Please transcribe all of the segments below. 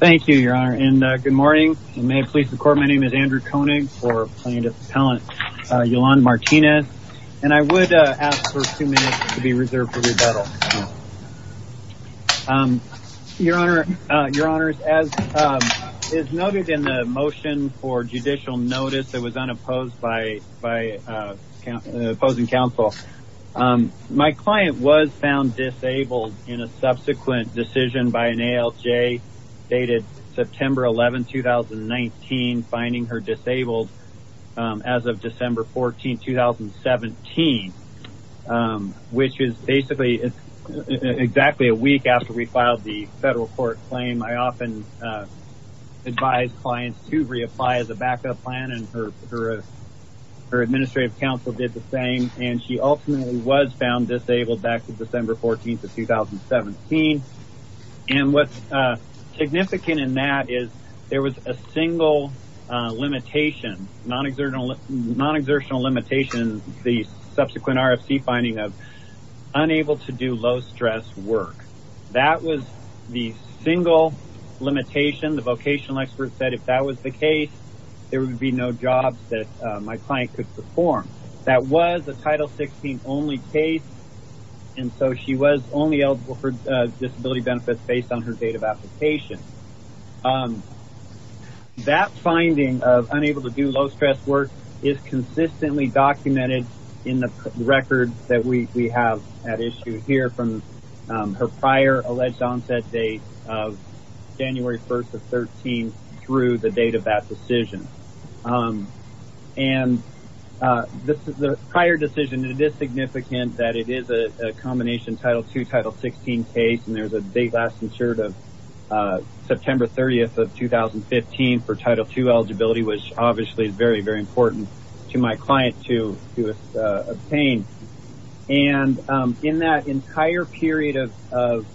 Thank you your honor and good morning and may it please the court my name is Andrew Koenig for plaintiff's appellant Yolanda Martinez and I would ask for two minutes to be reserved for rebuttal. Your honor, your honors as is noted in the motion for judicial notice that was unopposed by by opposing counsel my client was found disabled in a subsequent decision by an ALJ dated September 11 2019 finding her disabled as of December 14 2017 which is basically exactly a week after we filed the federal court claim I often advise clients to reapply as a backup plan and her her administrative counsel did the ultimately was found disabled back to December 14th of 2017 and what's significant in that is there was a single limitation non-exertional non-exertional limitations the subsequent RFC finding of unable to do low stress work that was the single limitation the vocational expert said if that was the case there would be no jobs that my client could perform that was a title 16 only case and so she was only eligible for disability benefits based on her date of application that finding of unable to do low stress work is consistently documented in the record that we have at issue here from her prior alleged onset date of January 1st of 13 through the date of that decision and this is the prior decision it is significant that it is a combination title 2 title 16 case and there's a date last insured of September 30th of 2015 for title 2 eligibility which obviously is very very important to my client to obtain and in that entire period of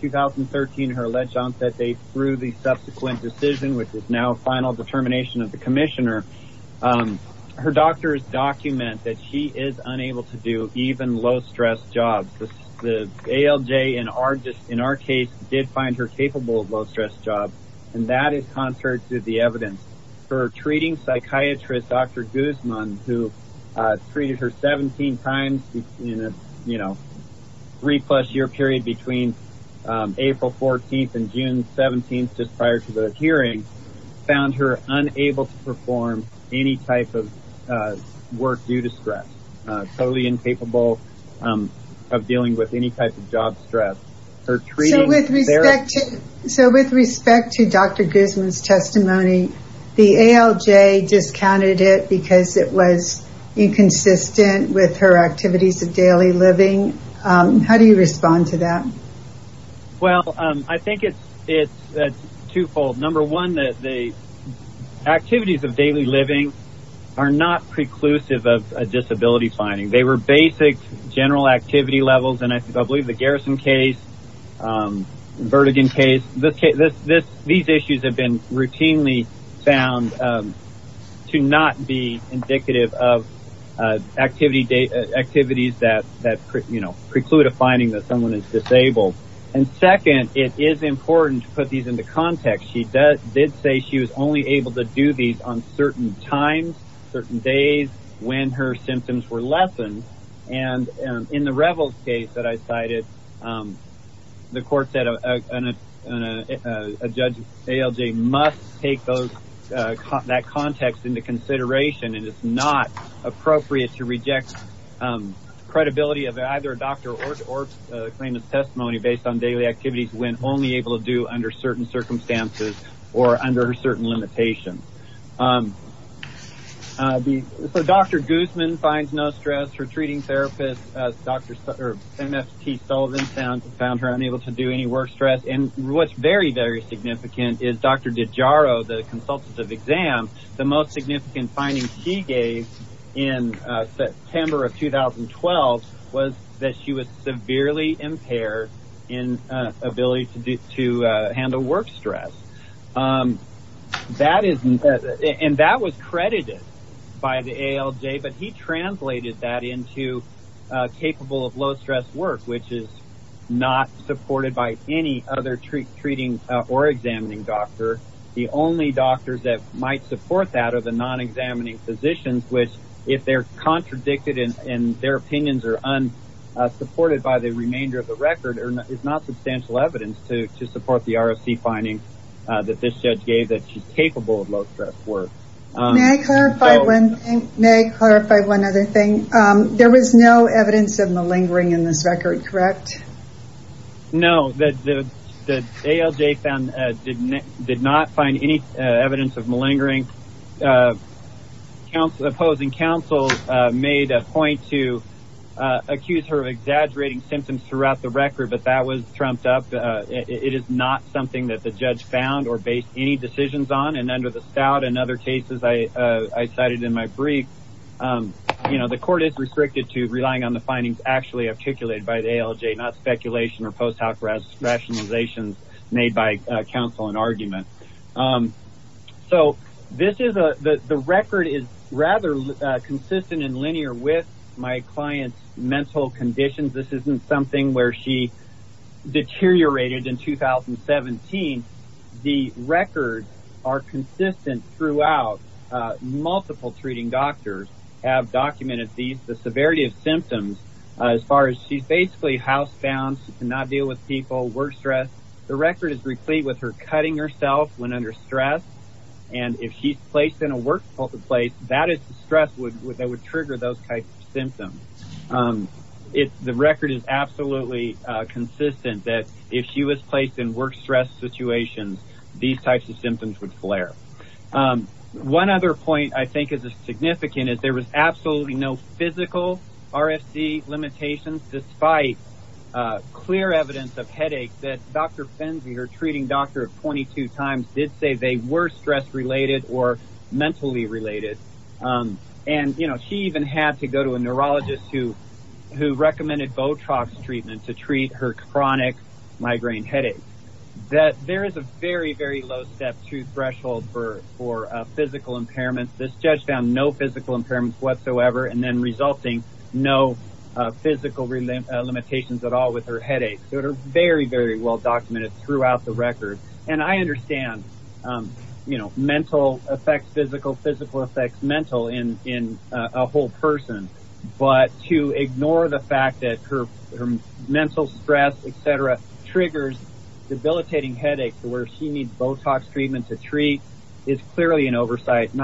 2013 her alleged onset date through the termination of the Commissioner her doctors document that she is unable to do even low stress jobs the ALJ and are just in our case did find her capable of low stress job and that is contrary to the evidence for treating psychiatrist dr. Guzman who treated her 17 times in a you know three plus year period between April 14th and June 17th just prior to the hearing found her unable to perform any type of work due to stress totally incapable of dealing with any type of job stress her treatment so with respect to dr. Guzman's testimony the ALJ discounted it because it was inconsistent with her activities of well I think it's it's twofold number one that the activities of daily living are not preclusive of a disability finding they were basic general activity levels and I believe the garrison case vertigin case this case this this these issues have been routinely found to not be indicative of activity data activities that that you know preclude a finding that someone is disabled and second it is important to put these into context she does did say she was only able to do these on certain times certain days when her symptoms were lessened and in the revels case that I cited the court said a judge ALJ must take those that context into consideration and it's not appropriate to reject credibility of either a doctor or claimant's testimony based on daily activities when only able to do under certain circumstances or under certain limitations. Dr. Guzman finds no stress for treating therapists Dr. Sullivan found her unable to do any work stress and what's very very significant is Dr. DiGiaro the consultant of exam the most significant findings he gave in September of 2012 was that she was severely impaired in ability to do to handle work stress that isn't and that was credited by the ALJ but he translated that into capable of low stress work which is not supported by any other treat treating or examining doctor the only doctors that might support that are the non-examining physicians which if they're contradicted in their opinions are unsupported by the remainder of the record is not substantial evidence to support the ROC finding that this judge gave that she's capable of low stress work. May I clarify one other thing there was no evidence of malingering in this record correct? No the ALJ did not find any evidence of opposing counsel made a point to accuse her of exaggerating symptoms throughout the record but that was trumped up it is not something that the judge found or based any decisions on and under the stout and other cases I cited in my brief you know the court is restricted to relying on the findings actually articulated by the ALJ not speculation or post hoc rationalizations made by counsel and argument so this is a the record is rather consistent and linear with my clients mental conditions this isn't something where she deteriorated in 2017 the records are consistent throughout multiple treating doctors have documented these the severity of symptoms as far as she's the record is replete with her cutting herself when under stress and if she's placed in a work place that is the stress would that would trigger those types of symptoms it's the record is absolutely consistent that if she was placed in work stress situations these types of symptoms would flare one other point I think is a significant is there was absolutely no physical RFC limitations despite clear evidence of headache that dr. Finzi her treating doctor of 22 times did say they were stress related or mentally related and you know she even had to go to a neurologist who who recommended Botox treatment to treat her chronic migraine headache that there is a very very low step to threshold for for physical impairments this judge found no impairments whatsoever and then resulting no physical limitations at all with her headache so it are very very well documented throughout the record and I understand you know mental effects physical physical effects mental in in a whole person but to ignore the fact that her mental stress etc triggers debilitating headaches where she needs Botox treatment to treat is clearly an no physical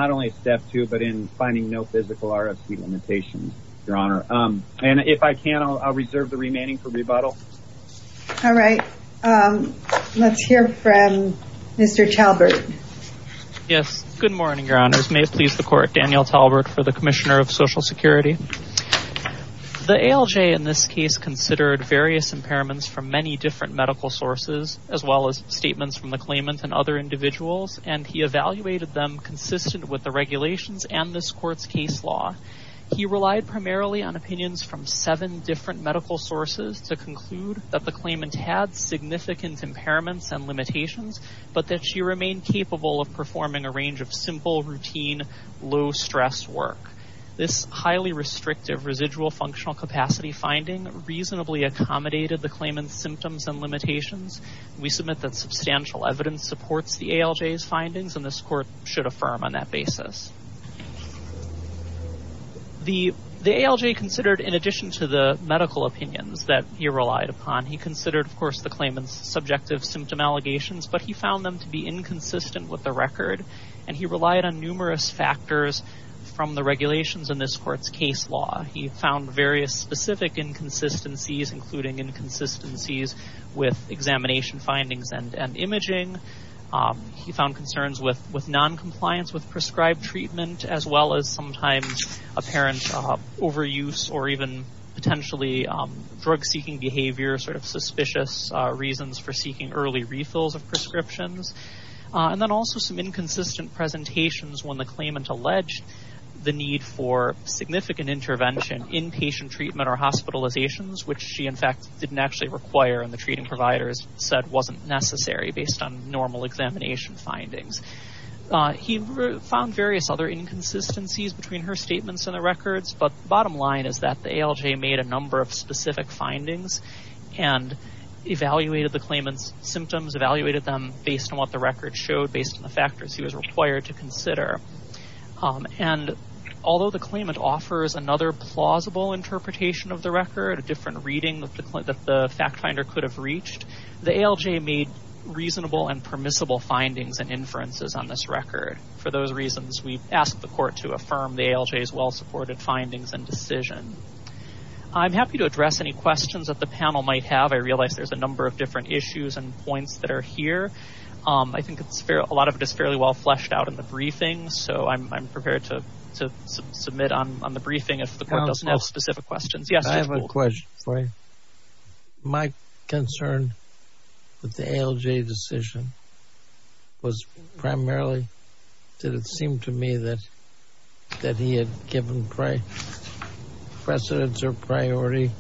RFC limitations your honor and if I can I'll reserve the remaining for rebuttal all right let's hear from mr. Talbert yes good morning your honors may it please the court Daniel Talbert for the Commissioner of Social Security the ALJ in this case considered various impairments from many different medical sources as well as statements from the claimant and other individuals and he he relied primarily on opinions from seven different medical sources to conclude that the claimant had significant impairments and limitations but that she remained capable of performing a range of simple routine low stress work this highly restrictive residual functional capacity finding reasonably accommodated the claimant's symptoms and limitations we submit that substantial evidence supports the ALJ's findings and this court should affirm on that basis the the ALJ considered in addition to the medical opinions that he relied upon he considered of course the claimants subjective symptom allegations but he found them to be inconsistent with the record and he relied on numerous factors from the regulations in this court's case law he found various specific inconsistencies including inconsistencies with examination findings and and imaging he found concerns with with non-compliance with prescribed treatment as well as sometimes apparent overuse or even potentially drug-seeking behavior sort of suspicious reasons for seeking early refills of prescriptions and then also some inconsistent presentations when the claimant alleged the need for significant intervention inpatient treatment or hospitalizations which she in fact didn't actually require and the treating providers said wasn't necessary based on normal examination findings he found various other inconsistencies between her statements and the records but bottom line is that the ALJ made a number of specific findings and evaluated the claimants symptoms evaluated them based on what the record showed based on the factors he was required to consider and although the claimant offers another plausible interpretation of the record a different reading that the fact finder could have reached the ALJ made reasonable and for those reasons we asked the court to affirm the ALJ's well-supported findings and decision I'm happy to address any questions that the panel might have I realize there's a number of different issues and points that are here I think it's fair a lot of it is fairly well fleshed out in the briefing so I'm prepared to submit on the briefing if the court does not specific questions I have a question for you my concern with the ALJ decision was primarily did it seem to me that that he had given precedence or priority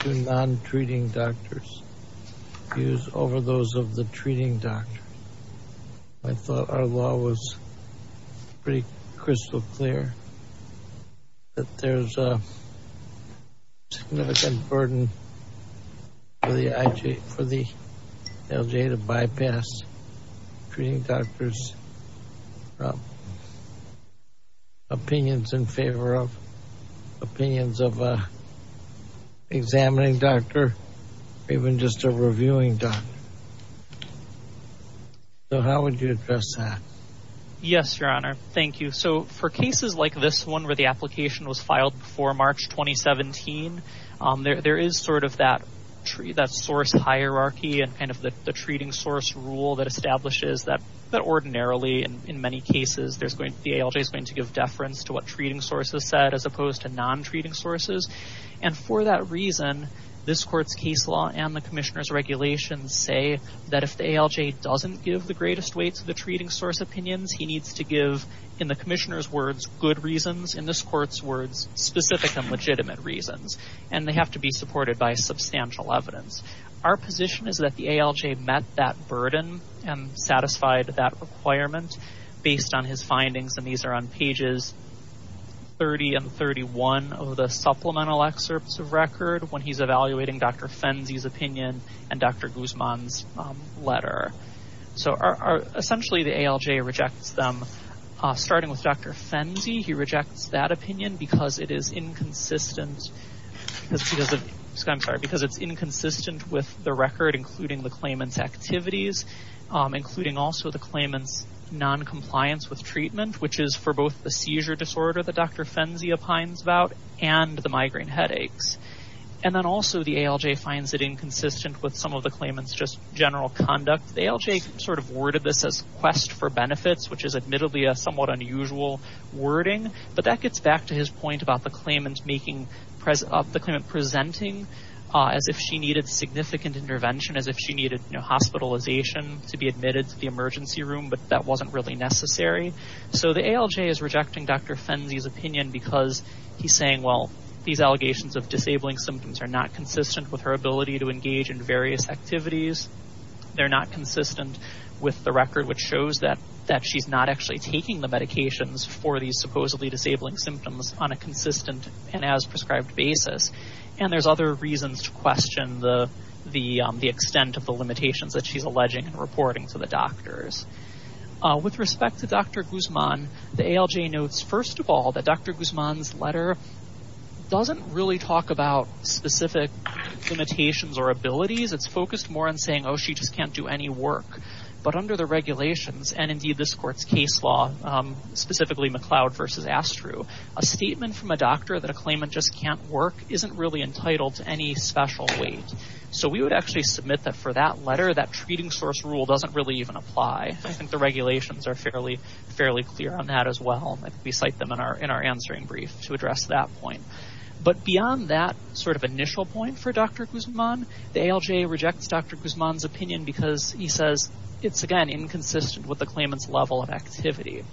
to non-treating doctors use over those of the treating doctor I thought our law was pretty clear that there's a significant burden for the ALJ to bypass treating doctors opinions in favor of opinions of examining doctor even just a reviewing doctor so how would you address that yes your honor thank you so for cases like this one where the application was filed before March 2017 there is sort of that tree that source hierarchy and kind of the treating source rule that establishes that but ordinarily and in many cases there's going to the ALJ is going to give deference to what treating sources said as opposed to non-treating sources and for that reason this court's case law and the Commissioner's regulations say that if the ALJ doesn't give the greatest weight to the treating source opinions he needs to give in the Commissioner's words good reasons in this court's words specific and legitimate reasons and they have to be supported by substantial evidence our position is that the ALJ met that burden and satisfied that requirement based on his findings and these are on pages 30 and 31 of the supplemental excerpts of record when he's evaluating dr. Fenzi's opinion and dr. Guzman's letter so are essentially the ALJ rejects them starting with dr. Fenzi he rejects that opinion because it is inconsistent because it's inconsistent with the record including the claimants activities including also the claimants non-compliance with treatment which is for both the seizure disorder that dr. Fenzi opines about and the consistent with some of the claimants just general conduct the ALJ sort of worded this as quest for benefits which is admittedly a somewhat unusual wording but that gets back to his point about the claimants making present up the kind of presenting as if she needed significant intervention as if she needed no hospitalization to be admitted to the emergency room but that wasn't really necessary so the ALJ is rejecting dr. Fenzi's opinion because he's saying well these allegations of disabling symptoms are not consistent with her ability to engage in various activities they're not consistent with the record which shows that that she's not actually taking the medications for these supposedly disabling symptoms on a consistent and as prescribed basis and there's other reasons to question the the extent of the limitations that she's alleging and reporting to the doctors with respect to dr. Guzman the ALJ notes first of all that dr. Guzman's letter doesn't really talk about specific limitations or abilities it's focused more on saying oh she just can't do any work but under the regulations and indeed this court's case law specifically McLeod versus Astru a statement from a doctor that a claimant just can't work isn't really entitled to any special weight so we would actually submit that for that letter that treating source rule doesn't really even apply I think the regulations are fairly fairly clear on that as well we cite them in our in our answering brief to address that point but beyond that sort of initial point for dr. Guzman the ALJ rejects dr. Guzman's opinion because he says it's again inconsistent with the claimants level of activity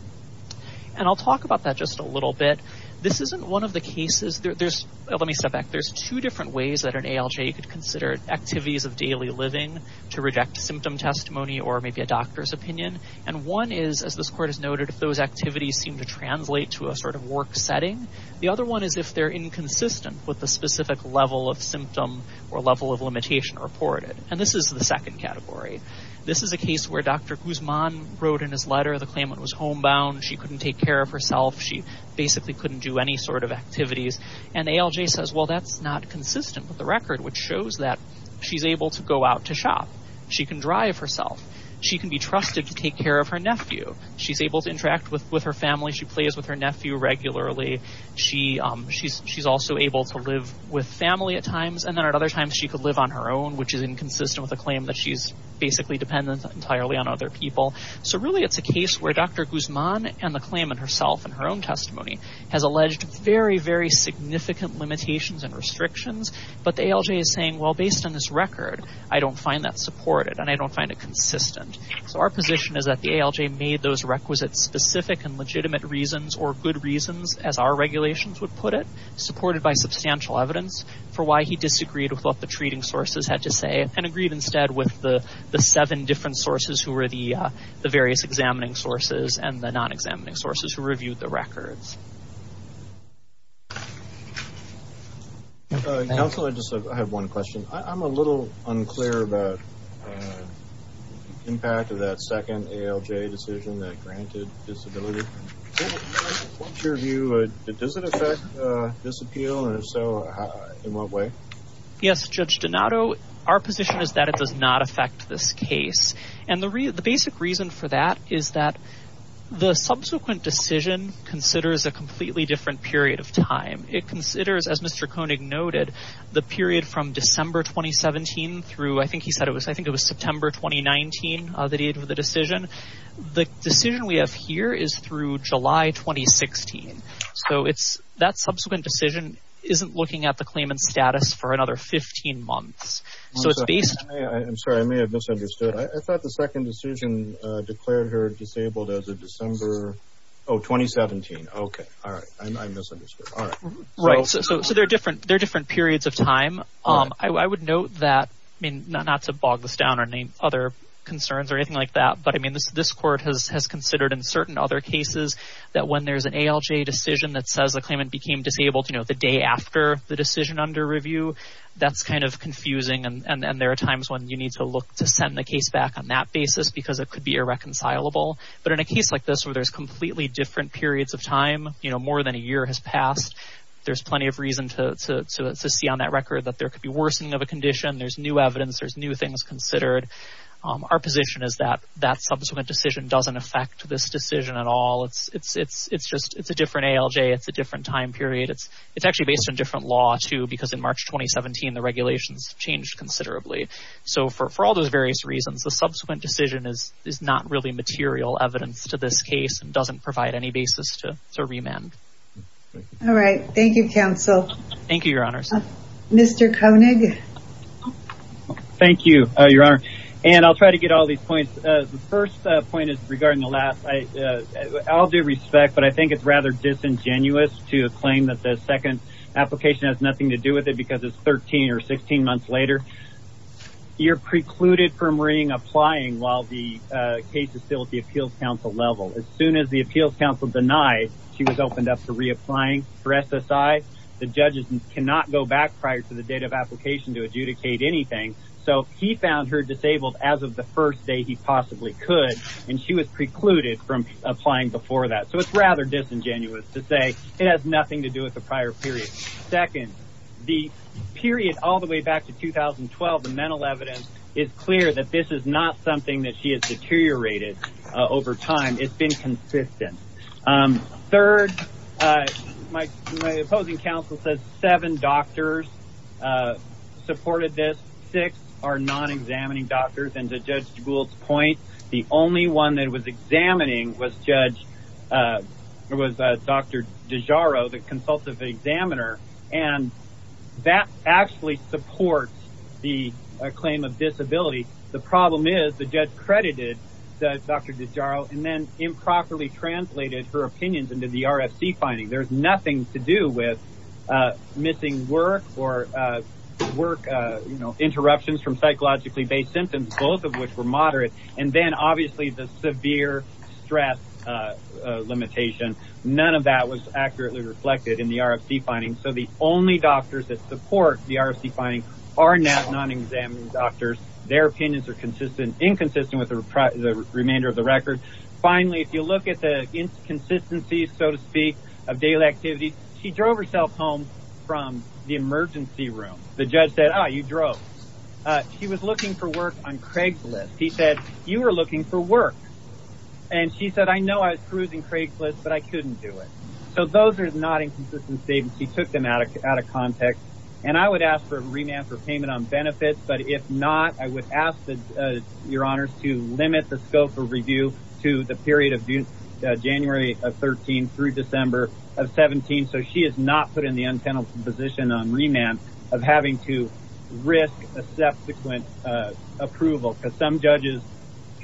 and I'll talk about that just a little bit this isn't one of the cases there's let me step back there's two different ways that an ALJ could consider activities of daily living to reject symptom testimony or maybe a doctor's opinion and one is as this court has noted if those activities seem to translate to a sort of work setting the other one is if they're inconsistent with the specific level of symptom or level of limitation reported and this is the second category this is a case where dr. Guzman wrote in his letter the claimant was homebound she couldn't take care of herself she basically couldn't do any sort of activities and ALJ says well that's not consistent with the record which shows that she's able to go out to shop she can drive herself she can be trusted to take care of her nephew she's able to interact with with her family she plays with her nephew regularly she she's also able to live with family at times and then at other times she could live on her own which is inconsistent with a claim that she's basically dependent entirely on other people so really it's a case where dr. Guzman and the claimant herself and her own testimony has alleged very very significant limitations and restrictions but the ALJ is saying well based on this record I don't find that supported and I don't find it consistent so our position is that the ALJ made those requisites specific and legitimate reasons or good reasons as our regulations would put it supported by substantial evidence for why he disagreed with what the treating sources had to say and agreed instead with the the seven different sources who were the the various examining sources and the non-examining sources who reviewed the records council I just have one question I'm a little unclear about impact of that second ALJ decision that granted disability what's your view it doesn't affect this appeal and so in what way yes judge Donato our position is that it does not affect this case and the real the basic reason for that is that the subsequent decision considers a completely different period of time it considers as mr. Koenig noted the period from December 2017 through I think he said it was I think it was September 2019 the date of the decision the decision we have here is through July 2016 so it's that subsequent decision isn't looking at the claimant status for another 15 months so it's based I'm sorry I may have misunderstood I thought the second decision declared her disabled as a December Oh 2017 okay all right I misunderstood all right right so they're different they're different periods of time I would note that I mean not to bog this down or name other concerns or anything like that but I mean this this court has considered in certain other cases that when there's an ALJ decision that says the claimant became disabled you know the day after the decision under review that's kind of confusing and there are times when you need to look to send the case back on that basis because it could be irreconcilable but in a case like this where there's completely different periods of time you know more than a see on that record that there could be worsening of a condition there's new evidence there's new things considered our position is that that subsequent decision doesn't affect this decision at all it's it's it's it's just it's a different ALJ it's a different time period it's it's actually based on different law too because in March 2017 the regulations changed considerably so for all those various reasons the subsequent decision is is not really material evidence to this case and doesn't provide any basis to remand all right thank you counsel thank you your honors mr. Koenig thank you your honor and I'll try to get all these points the first point is regarding the last I I'll do respect but I think it's rather disingenuous to claim that the second application has nothing to do with it because it's 13 or 16 months later you're precluded from ring applying while the case is still at the Appeals Council level as soon as the Appeals Council denied she was opened up to reapplying for SSI the judges cannot go back prior to the date of application to adjudicate anything so he found her disabled as of the first day he possibly could and she was precluded from applying before that so it's rather disingenuous to say it has nothing to do with the prior period second the period all the way back to 2012 the mental evidence is clear that this is not something that she has deteriorated over time it's been consistent third my opposing counsel says seven doctors supported this six are non-examining doctors and the judge schools point the only one that was examining was judge there was dr. DiGiaro the consultative examiner and that actually supports the claim of dr. DiGiaro and then improperly translated her opinions into the RFC finding there's nothing to do with missing work or work you know interruptions from psychologically based symptoms both of which were moderate and then obviously the severe stress limitation none of that was accurately reflected in the RFC finding so the only doctors that support the RFC finding are not non-examining doctors their opinions are consistent inconsistent with the remainder of the record finally if you look at the inconsistencies so to speak of daily activity she drove herself home from the emergency room the judge said oh you drove she was looking for work on Craigslist he said you were looking for work and she said I know I was cruising Craigslist but I couldn't do it so those are not inconsistent statements he took them out of context and I would ask for a remand for payment on benefits but if not I would ask the your honors to limit the scope of review to the period of January of 13 through December of 17 so she is not put in the untenable position on remand of having to risk a subsequent approval because some judges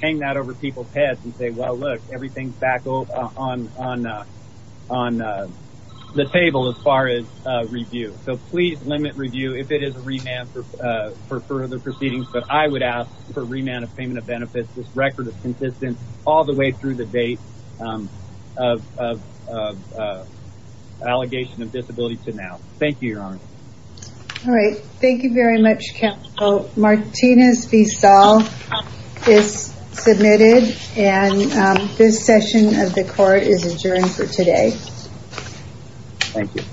hang that over people's heads and say well look everything's back over on on the table as far as review so please limit review if it is a remand for further proceedings but I would ask for record of consistence all the way through the date of allegation of disability to now thank you your honor all right thank you very much counsel Martinez V. Saul is submitted and this session of the court is adjourned for today thank you